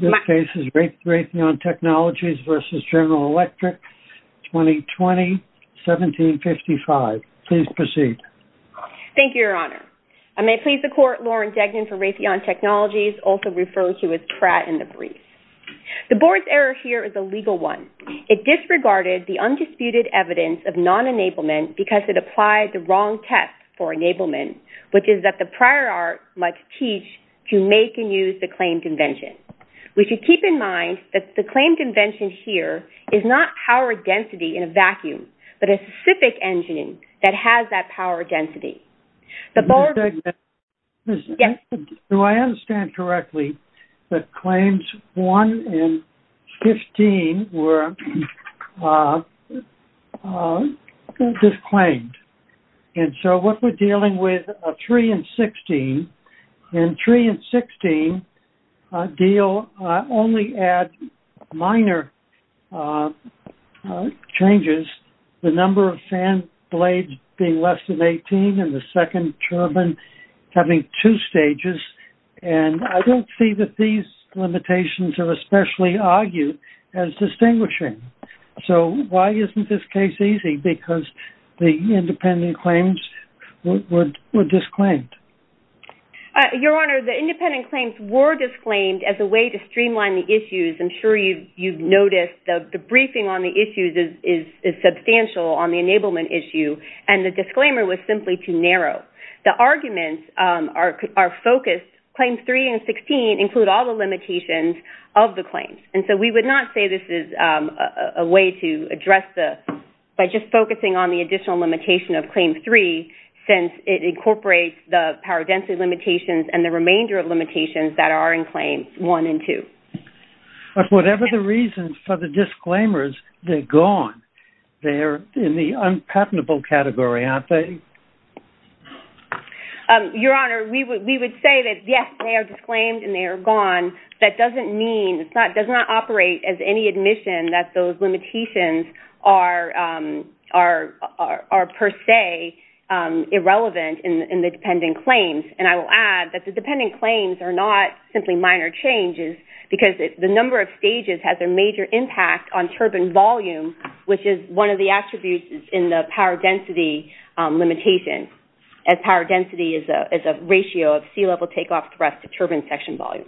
This case is Raytheon Technologies v. General Electric, 2020, 1755. Please proceed. Thank you, Your Honor. I may please the Court, Lauren Degnan for Raytheon Technologies, also referred to as Pratt and the Brief. The Board's error here is a legal one. It disregarded the undisputed evidence of non-enablement because it applied the wrong test for enablement, which is that the prior art must teach to make and use the claimed invention. We should keep in mind that the claimed invention here is not power density in a vacuum, but a specific engine that has that power density. Ms. Degnan, do I understand correctly that claims 1 and 15 were disclaimed? And so what we're dealing with are 3 and 16. And 3 and 16 deal only at minor changes, the number of fan blades being less than 18 and the second turbine having two stages. And I don't see that these limitations are especially argued as distinguishing. So why isn't this case easy? Because the independent claims were disclaimed. Your Honor, the independent claims were disclaimed as a way to streamline the issues. I'm sure you've noticed the briefing on the issues is substantial on the enablement issue. And the disclaimer was simply too narrow. The arguments are focused. Claims 3 and 16 include all the limitations of the claims. And so we would not say this is a way to address the, by just focusing on the additional limitation of Claim 3 since it incorporates the power density limitations and the remainder of limitations that are in Claims 1 and 2. Whatever the reasons for the disclaimers, they're gone. They're in the unpatentable category, aren't they? Your Honor, we would say that, yes, they are disclaimed and they are gone. That doesn't mean, does not operate as any admission that those limitations are per se irrelevant in the dependent claims. And I will add that the dependent claims are not simply minor changes because the number of stages has a major impact on turbine volume, which is one of the attributes in the power density limitation. And power density is a ratio of sea level takeoff thrust to turbine section volume.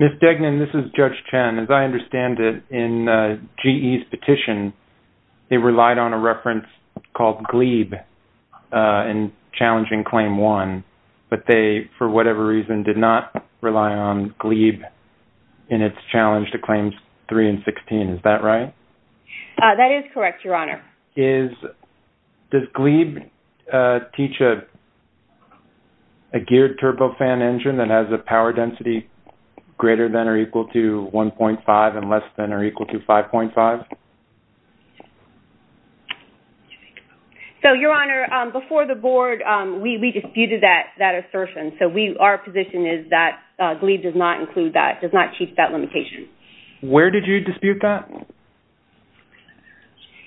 Ms. Degnan, this is Judge Chen. As I understand it, in GE's petition, they relied on a reference called GLEEB in challenging Claim 1. But they, for whatever reason, did not rely on GLEEB in its challenge to Claims 3 and 16. Is that right? That is correct, Your Honor. Does GLEEB teach a geared turbofan engine that has a power density greater than or equal to 1.5 and less than or equal to 5.5? So, Your Honor, before the Board, we disputed that assertion. So our position is that GLEEB does not include that, does not teach that limitation. Where did you dispute that?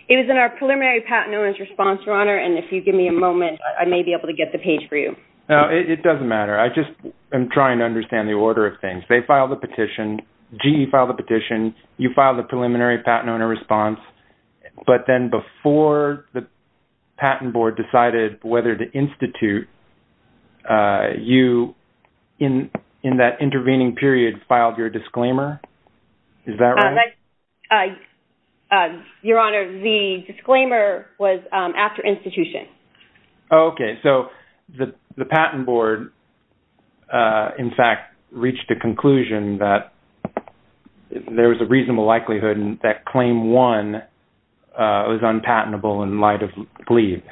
It was in our preliminary patent owner's response, Your Honor. And if you give me a moment, I may be able to get the page for you. No, it doesn't matter. I just am trying to understand the order of things. They filed the petition. GE filed the petition. You filed the preliminary patent owner response. But then before the Patent Board decided whether to institute, you, in that intervening period, you filed your disclaimer. Is that right? Your Honor, the disclaimer was after institution. Okay. So the Patent Board, in fact, reached a conclusion that there was a reasonable likelihood that Claim 1 was unpatentable in light of GLEEB.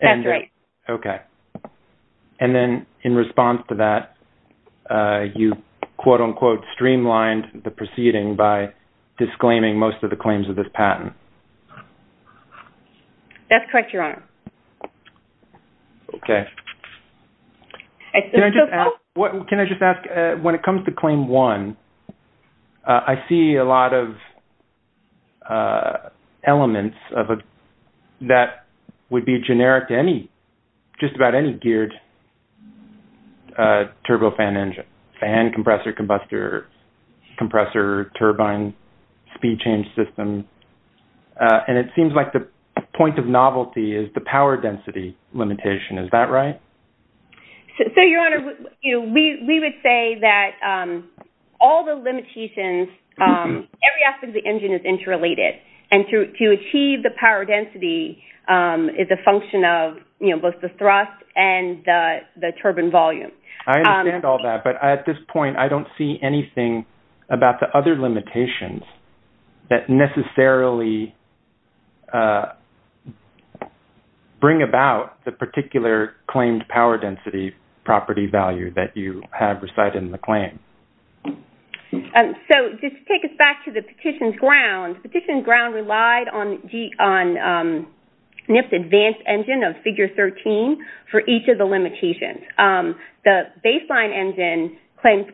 That's right. Okay. And then, in response to that, you, quote-unquote, streamlined the proceeding by disclaiming most of the claims of this patent. That's correct, Your Honor. Okay. Can I just ask, when it comes to Claim 1, I see a lot of elements that would be generic to just about any geared turbofan engine, fan, compressor, combustor, compressor, turbine, speed change system. And it seems like the point of novelty is the power density limitation. Is that right? So, Your Honor, we would say that all the limitations, every aspect of the engine is both the thrust and the turbine volume. I understand all that. But at this point, I don't see anything about the other limitations that necessarily bring about the particular claimed power density property value that you have recited in the claim. So, just to take us back to the petition's ground, the petition's ground relied on NIF's advanced engine of Figure 13 for each of the limitations. The baseline engine claimed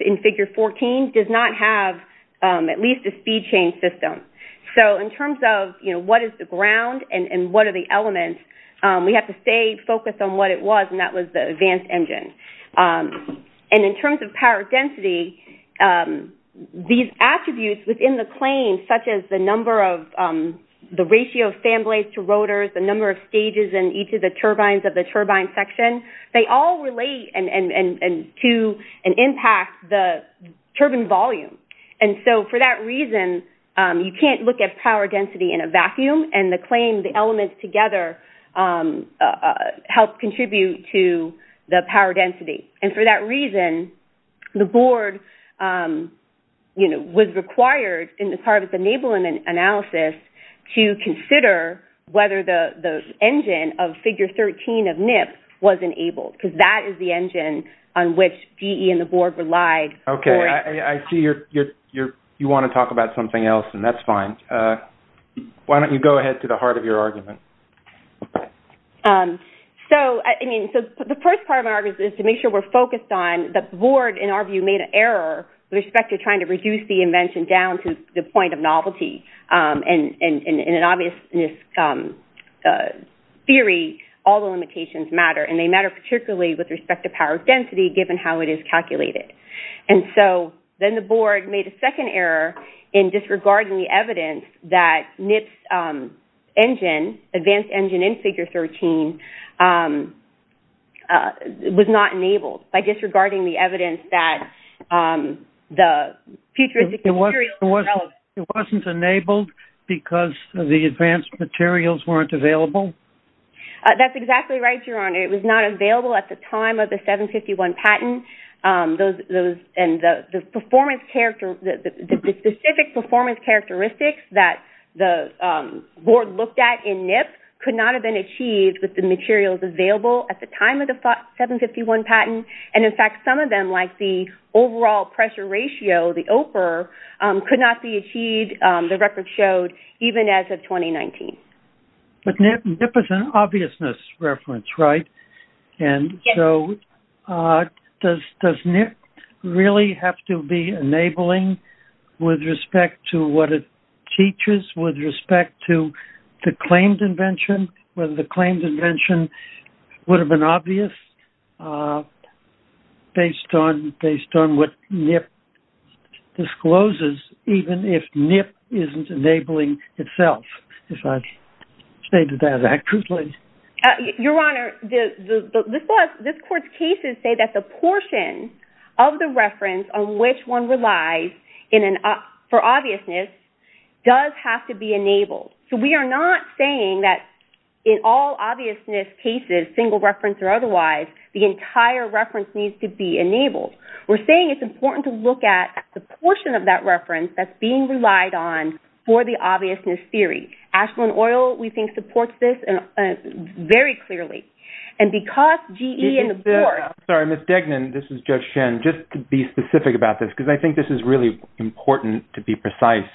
in Figure 14 does not have at least a speed change system. So, in terms of what is the ground and what are the elements, we have to stay focused on what it was, and that was the advanced engine. And in terms of power density, these attributes within the claim, such as the number of the ratio of fan blades to rotors, the number of stages in each of the turbines of the turbine section, they all relate to and impact the turbine volume. And so, for that reason, you can't look at power density in a vacuum. The claim and the claim, the elements together, help contribute to the power density. And for that reason, the board was required in the tariff enablement analysis to consider whether the engine of Figure 13 of NIF was enabled, because that is the engine on which GE and the board relied. Okay, I see you want to talk about something else, and that's fine. Why don't you go ahead to the heart of your argument? So, the first part of my argument is to make sure we're focused on the board, in our view, made an error with respect to trying to reduce the invention down to the point of novelty. And in an obvious theory, all the limitations matter, and they matter particularly with respect to power density, given how it is calculated. And so, then the board made a second error in disregarding the evidence that NIF's engine, advanced engine in Figure 13, was not enabled, by disregarding the evidence that the futuristic materials were relevant. It wasn't enabled because the advanced materials weren't available? That's exactly right, Your Honor. It was not available at the time of the 751 patent. And the specific performance characteristics that the board looked at in NIF could not have been achieved with the materials available at the time of the 751 patent. And, in fact, some of them, like the overall pressure ratio, the OPR, could not be achieved, the record showed, even as of 2019. But NIF is an obviousness reference, right? Yes. So, does NIF really have to be enabling with respect to what it teaches, with respect to the claimed invention, whether the claimed invention would have been obvious, based on what NIF discloses, even if NIF isn't enabling itself, if I've stated that accurately? Your Honor, this court's cases say that the portion of the reference on which one relies for obviousness does have to be enabled. So we are not saying that in all obviousness cases, single reference or otherwise, the entire reference needs to be enabled. We're saying it's important to look at the portion of that reference that's being relied on for the obviousness theory. Ashland Oil, we think, supports this very clearly. And because GE and the board... Sorry, Ms. Degnan, this is Judge Shen. Just to be specific about this, because I think this is really important to be precise,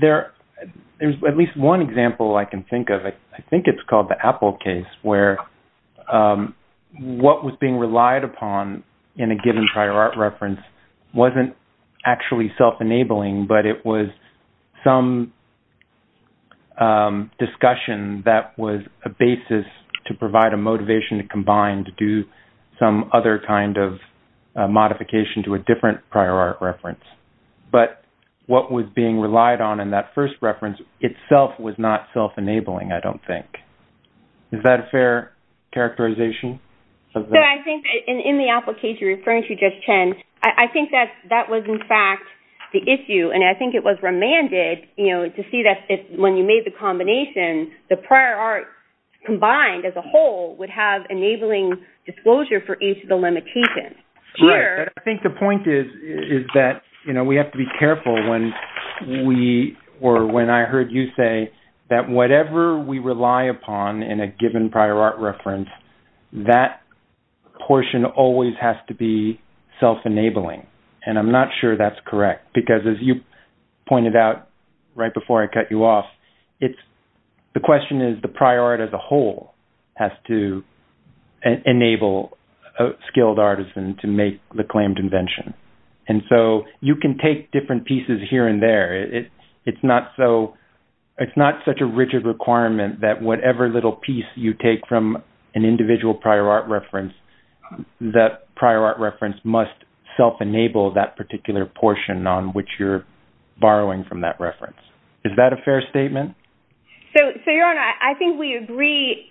there's at least one example I can think of. I think it's called the Apple case, where what was being relied upon in a given prior art reference wasn't actually self-enabling, but it was some discussion that was a basis to provide a motivation to combine, to do some other kind of modification to a different prior art reference. But what was being relied on in that first reference itself was not self-enabling, I don't think. Is that a fair characterization? I think that in the Apple case you're referring to, Judge Shen, I think that that was in fact the issue. And I think it was remanded to see that when you made the combination, the prior art combined as a whole would have enabling disclosure for each of the limitations. Right. But I think the point is that we have to be careful when I heard you say that whatever we rely upon in a given prior art reference, that portion always has to be self-enabling. And I'm not sure that's correct. Because as you pointed out right before I cut you off, the question is the prior art as a whole has to enable a skilled artisan to make the claimed invention. And so you can take different pieces here and there. It's not such a rigid requirement that whatever little piece you take from an individual prior art reference, that prior art reference must self-enable that particular portion on which you're borrowing from that reference. Is that a fair statement? So, Your Honor, I think we agree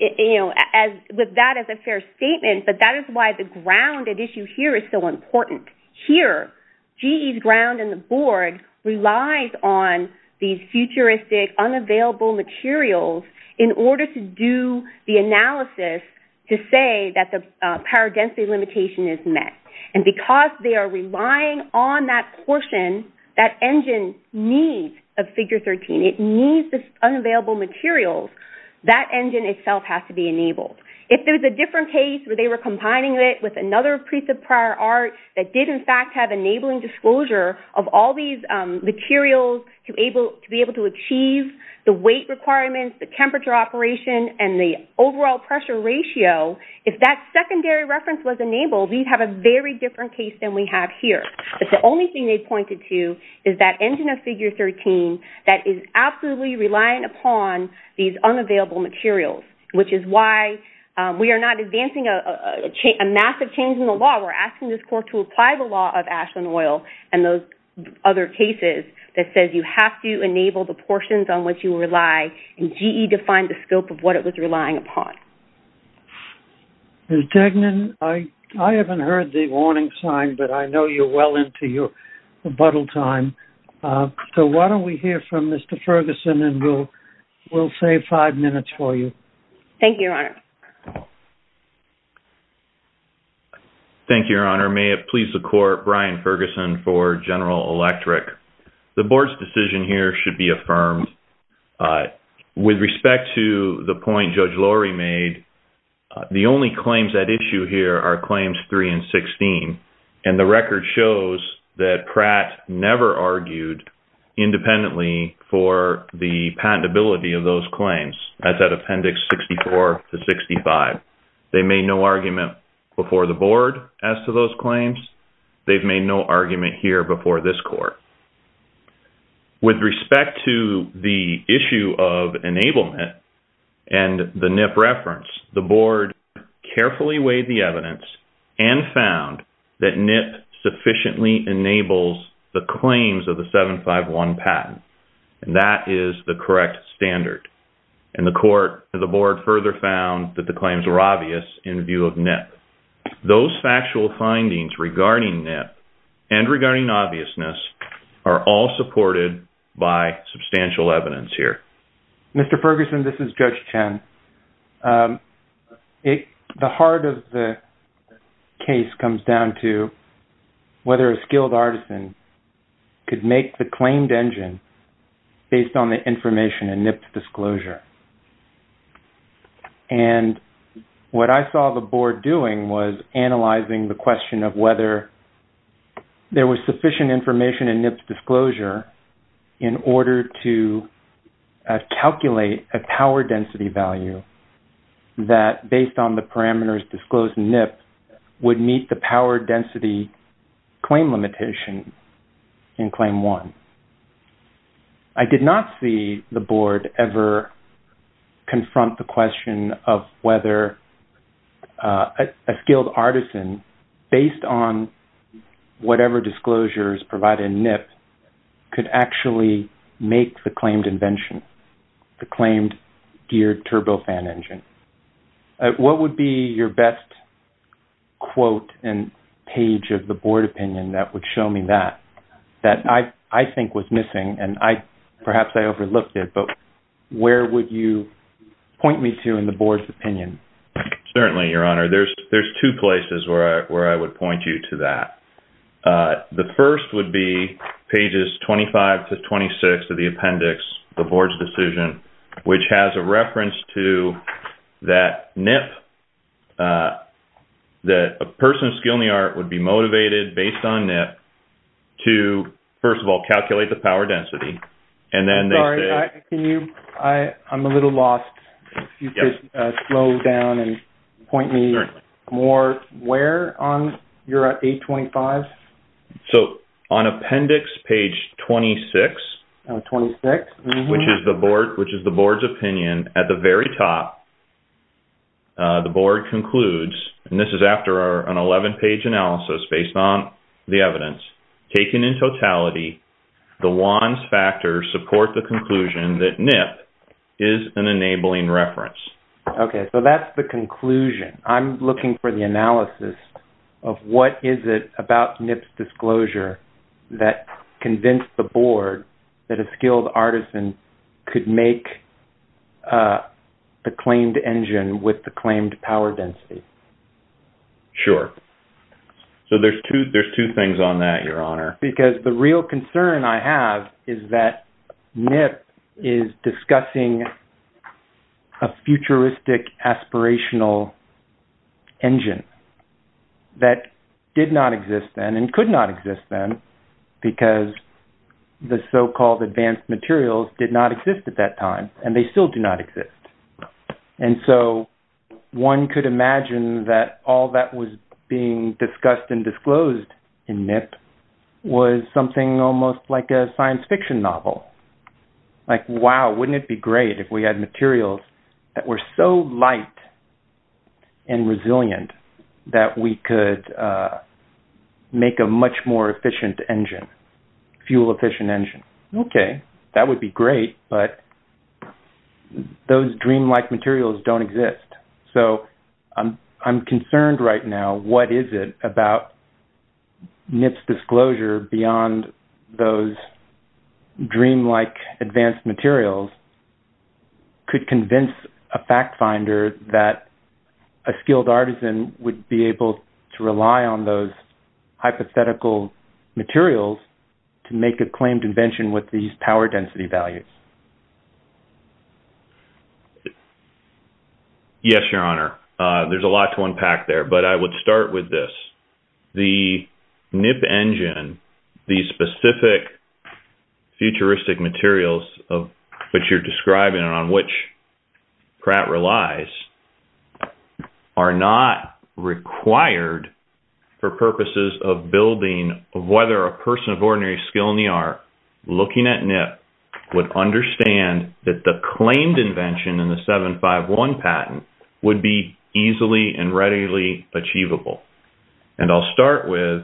with that as a fair statement. But that is why the grounded issue here is so important. Here, GE's ground and the board relies on these futuristic unavailable materials in order to do the analysis to say that the power density limitation is met. And because they are relying on that portion, that engine needs a figure 13. It needs the unavailable materials. That engine itself has to be enabled. If there's a different case where they were combining it with another piece of prior art that did, in fact, have enabling disclosure of all these materials to be able to achieve the weight requirements, the temperature operation, and the overall pressure ratio, if that secondary reference was enabled, we'd have a very different case than we have here. If the only thing they pointed to is that engine of figure 13 that is absolutely relying upon these unavailable materials, which is why we are not advancing a massive change in the law. We're asking this court to apply the law of Ashland Oil and those other cases that says you have to enable the portions on which you rely, and GE defined the scope of what it was relying upon. Ms. Tegnan, I haven't heard the warning sign, but I know you're well into your rebuttal time. So why don't we hear from Mr. Ferguson, and we'll save five minutes for you. Thank you, Your Honor. Thank you, Your Honor. May it please the court, Brian Ferguson for General Electric. The board's decision here should be affirmed. With respect to the point Judge Lurie made, the only claims at issue here are claims 3 and 16, and the record shows that Pratt never argued independently for the patentability of those claims as at Appendix 64 to 65. They made no argument before the board as to those claims. They've made no argument here before this court. With respect to the issue of enablement and the NIP reference, the board carefully weighed the evidence and found that NIP sufficiently enables the claims of the 751 patent, and that is the correct standard, and the board further found that the claims were obvious in view of NIP. Those factual findings regarding NIP and regarding obviousness are all supported by substantial evidence here. Mr. Ferguson, this is Judge Chen. The heart of the case comes down to whether a skilled artisan could make the claimed engine based on the information in NIP's disclosure, and what I saw the board doing was analyzing the question of whether there was sufficient information in NIP's disclosure in order to calculate a power density value that, based on the parameters disclosed in NIP, would meet the power density claim limitation in Claim 1. I did not see the board ever confront the question of whether a skilled artisan, based on whatever disclosures provided in NIP, could actually make the claimed invention, the claimed geared turbofan engine. What would be your best quote and page of the board opinion that would show me that, that I think was missing, and perhaps I overlooked it, but where would you point me to in the board's opinion? Certainly, Your Honor. There's two places where I would point you to that. The first would be pages 25 to 26 of the appendix, the board's decision, which has a reference to that NIP, that a person of skill in the art would be motivated, based on NIP, to, first of all, calculate the power density, and then they say... I'm sorry. Can you... I'm a little lost. Yes. If you could slow down and point me... Certainly. ...more where on... You're at page 25? So, on appendix page 26... Oh, 26. ...which is the board's opinion, at the very top, the board concludes, and this is after an 11-page analysis based on the evidence, taken in totality, the WANs factors support the conclusion that NIP is an enabling reference. Okay. So, that's the conclusion. I'm looking for the analysis of what is it about NIP's disclosure that convinced the person could make the claimed engine with the claimed power density? Sure. So, there's two things on that, Your Honor. Because the real concern I have is that NIP is discussing a futuristic aspirational engine that did not exist then, and could not exist then, because the so-called advanced materials did not exist at that time, and they still do not exist. And so, one could imagine that all that was being discussed and disclosed in NIP was something almost like a science fiction novel. Like, wow, wouldn't it be great if we had materials that were so light and resilient that we could make a much more efficient engine, fuel-efficient engine? Okay. That would be great, but those dreamlike materials don't exist. So, I'm concerned right now. What is it about NIP's disclosure beyond those dreamlike advanced materials could convince a fact finder that a skilled artisan would be able to rely on those hypothetical materials to make a claimed invention with these power density values? Yes, Your Honor. There's a lot to unpack there, but I would start with this. The NIP engine, the specific futuristic materials that you're describing and on which Pratt relies, are not required for purposes of building of whether a person of ordinary skill in the art looking at NIP would understand that the claimed invention in the 751 patent would be easily and readily achievable. And I'll start with,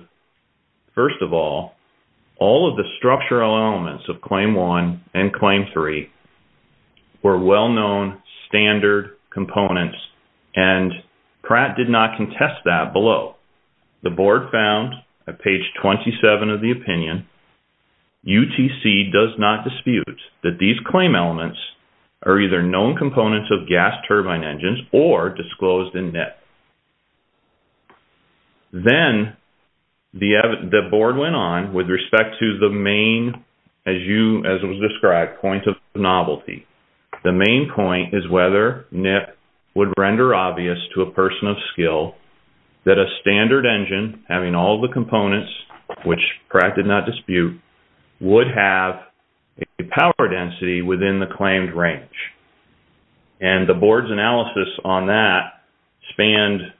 first of all, all of the structural elements of Claim 1 and Claim 3 were well-known standard components, and Pratt did not contest that below. The board found at page 27 of the opinion, UTC does not dispute that these claim elements are either known components of gas turbine engines or disclosed in NIP. Then, the board went on with respect to the main, as it was described, point of novelty. The main point is whether NIP would render obvious to a person of skill that a standard engine, having all the components, which Pratt did not dispute, would have a power density within the claimed range. And the board's analysis on that spanned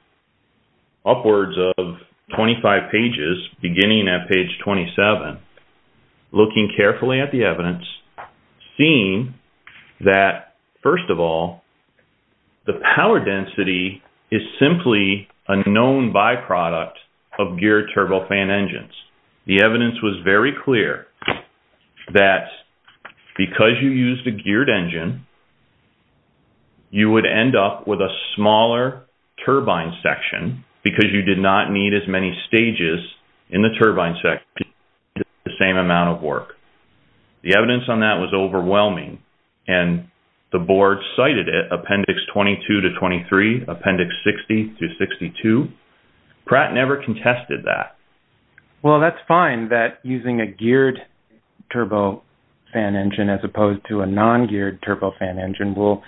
upwards of 25 pages, beginning at page 27, looking carefully at the evidence, seeing that, first of all, the power density is simply a known byproduct of geared turbofan engines. The evidence was very clear that because you used a geared engine, you would end up with a smaller turbine section because you did not need as many stages in the turbine section to do the same amount of work. The evidence on that was overwhelming, and the board cited it, appendix 22 to 23, appendix 60 to 62. Pratt never contested that. Well, that's fine that using a geared turbofan engine as opposed to a non-geared turbofan engine will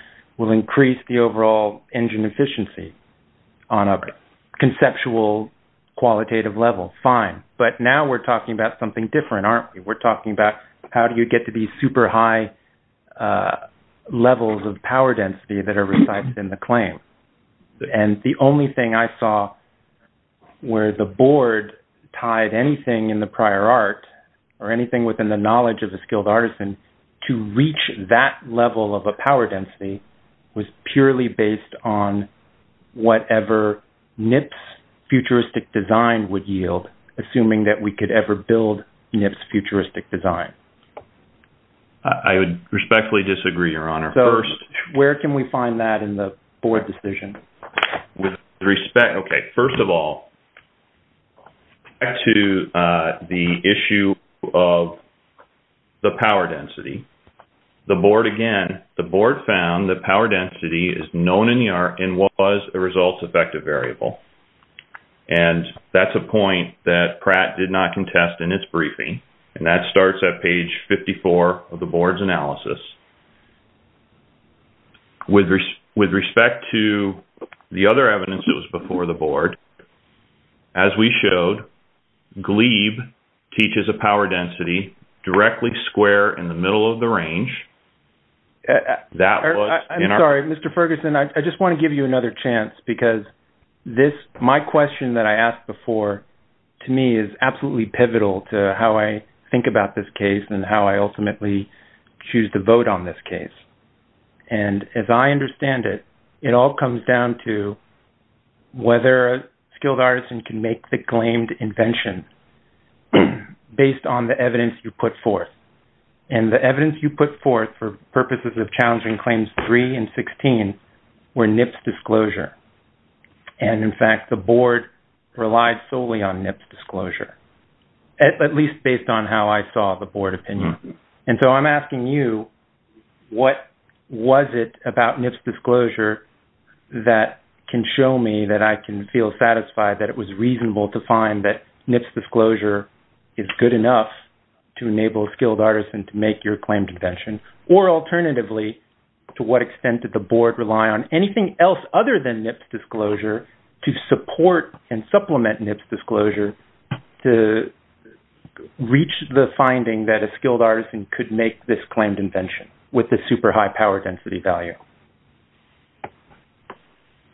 increase the overall engine efficiency on a conceptual, qualitative level. Fine. But now we're talking about something different, aren't we? We're talking about how do you get to these super high levels of power density that are recited in the claim. And the only thing I saw where the board tied anything in the prior art or anything within the knowledge of a skilled artisan to reach that level of a power density was purely based on whatever NIP's futuristic design would yield, assuming that we could ever build NIP's futuristic design. I would respectfully disagree, Your Honor. So where can we find that in the board decision? Okay. First of all, back to the issue of the power density. The board, again, the board found that power density is known in the art and was a results-effective variable. And that's a point that Pratt did not contest in its briefing, and that starts at page 54 of the board's analysis. With respect to the other evidence that was before the board, as we showed, GLEEB teaches a power density directly square in the middle of the range. I'm sorry. Mr. Ferguson, I just want to give you another chance, because my question that I asked before, to me, is absolutely pivotal to how I think about this case and how I ultimately choose to vote on this case. And as I understand it, it all comes down to whether a skilled artisan can make the claimed invention based on the evidence you put forth. And the evidence you put forth for purposes of challenging Claims 3 and 16 were NIP's disclosure. And, in fact, the board relied solely on NIP's disclosure, at least based on how I saw the board opinion. And so I'm asking you, what was it about NIP's disclosure that can show me that I can feel satisfied that it was reasonable to find that NIP's disclosure is good enough to enable a skilled artisan to make your claimed invention? Or, alternatively, to what extent did the board rely on anything else other than NIP's disclosure to support and supplement NIP's disclosure to reach the finding that a skilled artisan could make this claimed invention with a super high power density value?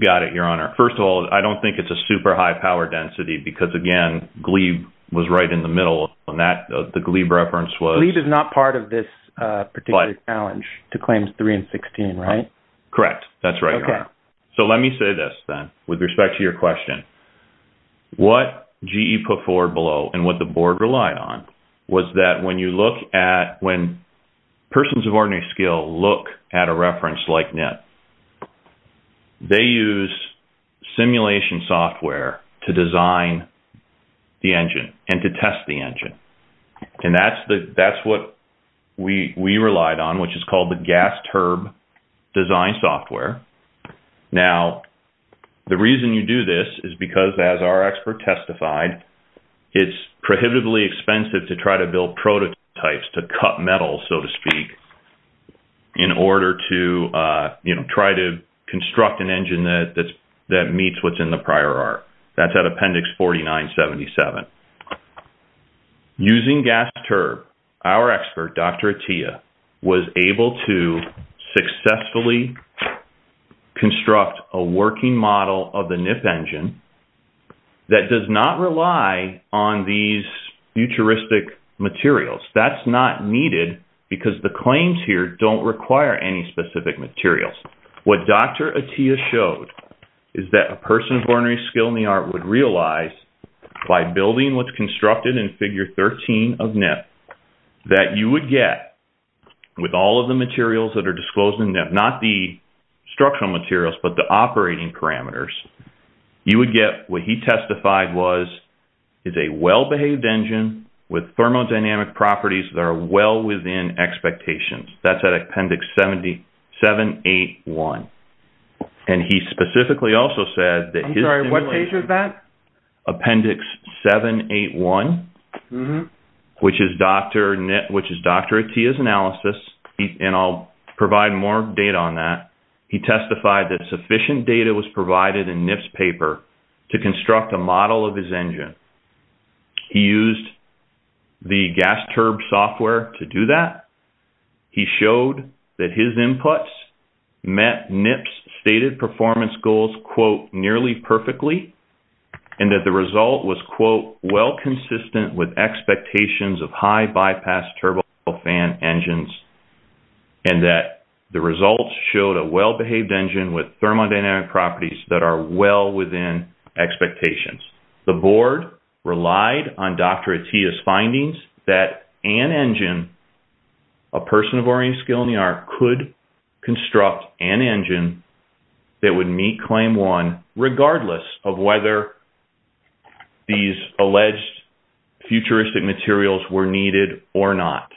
Got it, Your Honor. First of all, I don't think it's a super high power density, because, again, GLEEB was right in the middle of that. The GLEEB reference was… …to Claims 3 and 16, right? Correct. That's right, Your Honor. Okay. So let me say this, then, with respect to your question. What GE put forward below and what the board relied on was that when you look at – when persons of ordinary skill look at a reference like NIP, they use simulation software to design the engine and to test the engine. And that's what we relied on, which is called the gas-turb design software. Now, the reason you do this is because, as our expert testified, it's prohibitively expensive to try to build prototypes to cut metal, so to speak, in order to try to construct an engine that meets what's in the prior art. That's at Appendix 4977. Using gas-turb, our expert, Dr. Atiyah, was able to successfully construct a working model of the NIP engine that does not rely on these futuristic materials. That's not needed, because the claims here don't require any specific materials. What Dr. Atiyah showed is that a person of ordinary skill in the art would realize, by building what's constructed in Figure 13 of NIP, that you would get, with all of the materials that are disclosed in NIP – not the structural materials, but the operating parameters – you would get what he testified was is a well-behaved engine with thermodynamic properties that are well within expectations. That's at Appendix 781. And he specifically also said that – I'm sorry, what page is that? Appendix 781, which is Dr. Atiyah's analysis, and I'll provide more data on that. He testified that sufficient data was provided in NIP's paper to construct a model of his engine. He used the gas-turb software to do that. He showed that his inputs met NIP's stated performance goals, quote, nearly perfectly, and that the result was, quote, well consistent with expectations of high-bypass turbofan engines, and that the results showed a well-behaved engine with thermodynamic properties that are well within expectations. The board relied on Dr. Atiyah's findings that an engine, a person of oriented skill in the art, could construct an engine that would meet Claim 1, regardless of whether these alleged futuristic materials were needed or not.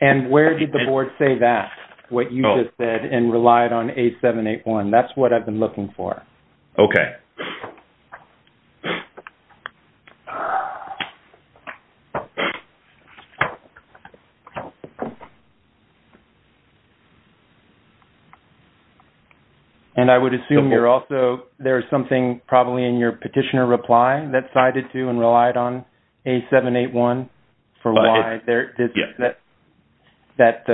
And where did the board say that, what you just said, and relied on 8781? That's what I've been looking for. Okay. And I would assume you're also – there was something probably in your petitioner reply that sided to and relied on 8781 for why there – Yeah. That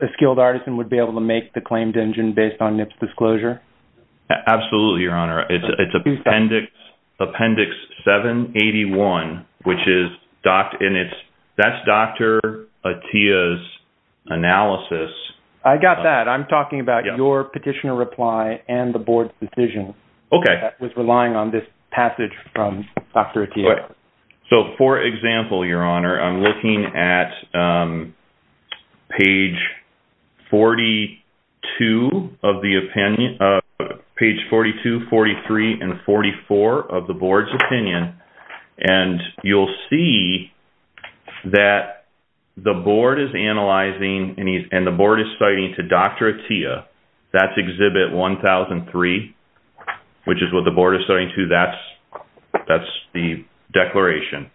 a skilled artisan would be able to make the claimed engine based on NIP's disclosure? Absolutely, Your Honor. It's Appendix 781, which is – and it's – that's Dr. Atiyah's analysis. I got that. I'm talking about your petitioner reply and the board's decision. Okay. That was relying on this passage from Dr. Atiyah. So, for example, Your Honor, I'm looking at page 42 of the opinion – page 42, 43, and 44 of the board's opinion, and you'll see that the board is analyzing and the board is citing to Dr. Atiyah, that's exhibit 1003, which is what the board is citing to. That's the declaration.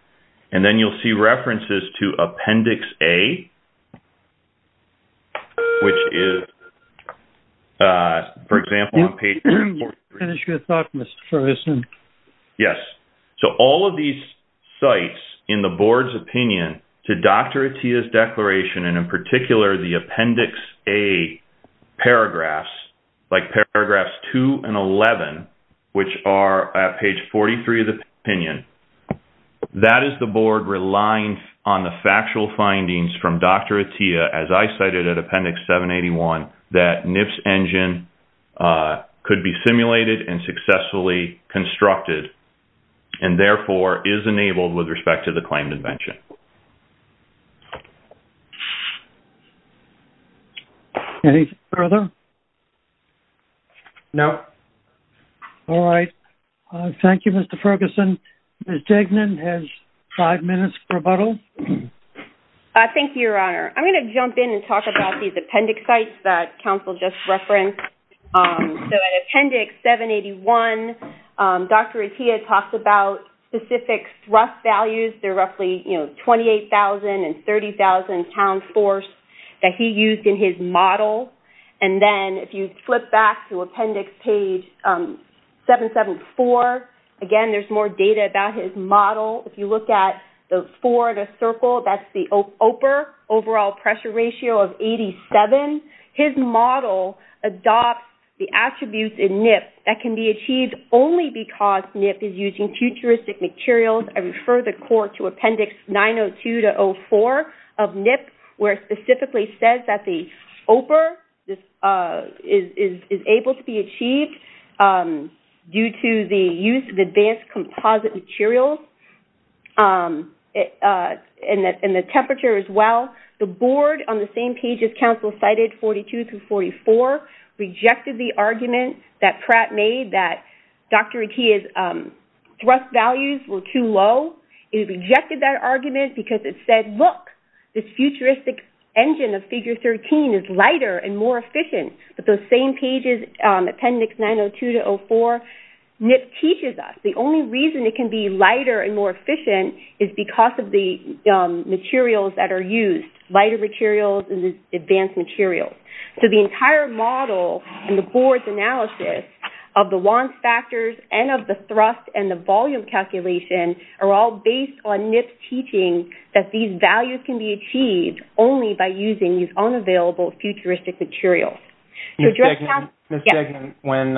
And then you'll see references to Appendix A, which is, for example, on page 43. Finish your thought, Mr. Ferguson. Yes. So, all of these cites in the board's opinion to Dr. Atiyah's declaration, and in particular the Appendix A paragraphs, like paragraphs 2 and 11, which are at page 43 of the opinion, that is the board relying on the factual findings from Dr. Atiyah, as I cited at Appendix 781, that NIP's engine could be simulated and successfully constructed. And, therefore, is enabled with respect to the claimed invention. Anything further? No. All right. Thank you, Mr. Ferguson. Ms. Degnan has five minutes for rebuttal. Thank you, Your Honor. I'm going to jump in and talk about these appendix cites that counsel just referenced. So, in Appendix 781, Dr. Atiyah talks about specific thrust values. They're roughly, you know, 28,000 and 30,000 pound force that he used in his model. And then, if you flip back to Appendix page 774, again, there's more data about his model. If you look at the four in a circle, that's the OPR, overall pressure ratio of 87. His model adopts the attributes in NIP that can be achieved only because NIP is using futuristic materials. I refer the court to Appendix 902-04 of NIP, where it specifically says that the OPR is able to be achieved due to the use of advanced composite materials and the temperature as well. The board, on the same page as counsel cited, 42-44, rejected the argument that Pratt made that Dr. Atiyah's thrust values were too low. It rejected that argument because it said, look, this futuristic engine of Figure 13 is lighter and more efficient. But those same pages, Appendix 902-04, NIP teaches us the only reason it can be lighter and more efficient is because of the materials that are used. Lighter materials and advanced materials. So the entire model and the board's analysis of the wants factors and of the thrust and the volume calculation are all based on NIP's teaching that these values can be achieved only by using these unavailable futuristic materials. Ms. Degnan, when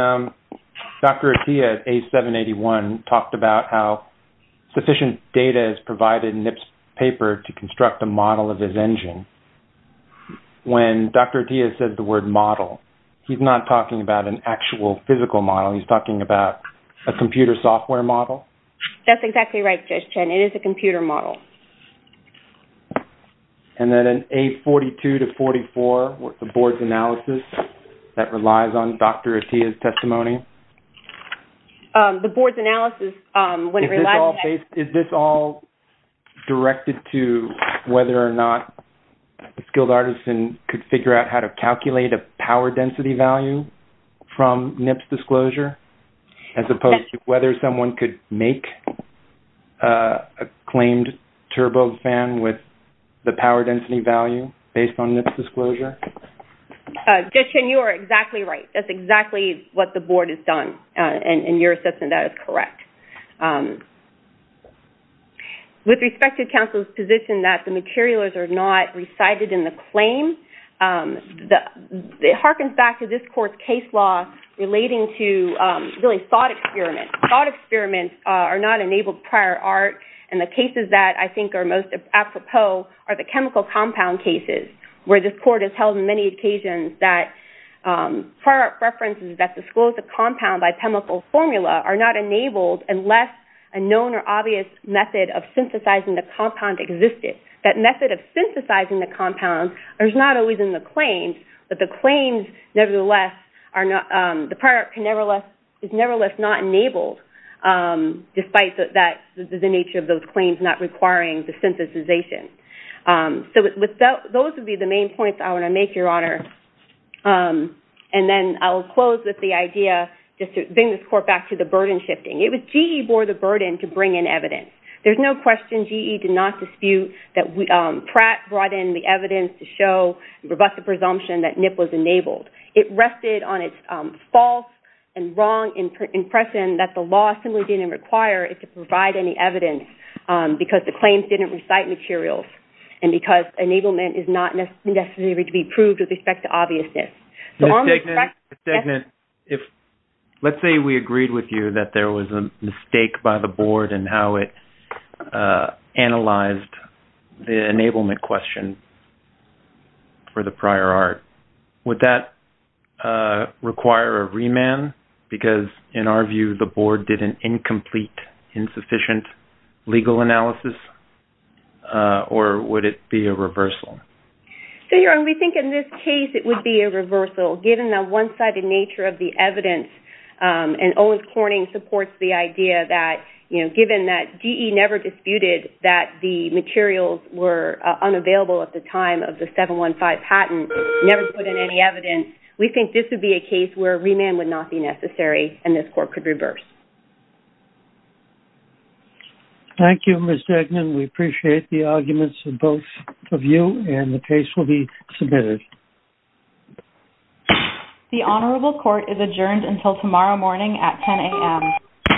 Dr. Atiyah at A781 talked about how sufficient data is provided in NIP's paper to construct a model of his engine, when Dr. Atiyah said the word model, he's not talking about an actual physical model. He's talking about a computer software model. That's exactly right, Judge Chen. It is a computer model. And then in A42-44, the board's analysis that relies on Dr. Atiyah's testimony. The board's analysis when it relies on that. So it's a turbo fan with the power density value based on NIP's disclosure? Judge Chen, you are exactly right. That's exactly what the board has done. And your assessment of that is correct. With respect to counsel's position that the materials are not recited in the claim, it harkens back to this court's case law relating to really thought experiments. Thought experiments are not enabled prior art. And the cases that I think are most apropos are the chemical compound cases where this court has held many occasions that prior art references that disclose the compound by chemical formula are not enabled unless a known or obvious method of synthesizing the compound existed. That method of synthesizing the compound is not always in the claims. But the claims, nevertheless, the prior art is nevertheless not enabled despite the nature of those claims not requiring the synthesization. So those would be the main points I want to make, Your Honor. And then I'll close with the idea, just to bring this court back to the burden shifting. It was GE bore the burden to bring in evidence. There's no question GE did not dispute that Pratt brought in the evidence to show a robust presumption that NIP was enabled. It rested on its false and wrong impression that the law simply didn't require it to provide any evidence because the claims didn't recite materials and because enablement is not necessary to be proved with respect to obviousness. Let's say we agreed with you that there was a mistake by the board in how it analyzed the enablement question for the prior art. Would that require a remand because, in our view, the board did an incomplete, insufficient legal analysis? Or would it be a reversal? So, Your Honor, we think in this case it would be a reversal, given the one-sided nature of the evidence. And Owens Corning supports the idea that, you know, given that GE never disputed that the materials were unavailable at the time of the 715 patent, never put in any evidence, we think this would be a case where a remand would not be necessary and this court could reverse. Thank you, Ms. Degnan. We appreciate the arguments of both of you and the case will be submitted. The Honorable Court is adjourned until tomorrow morning at 10 a.m.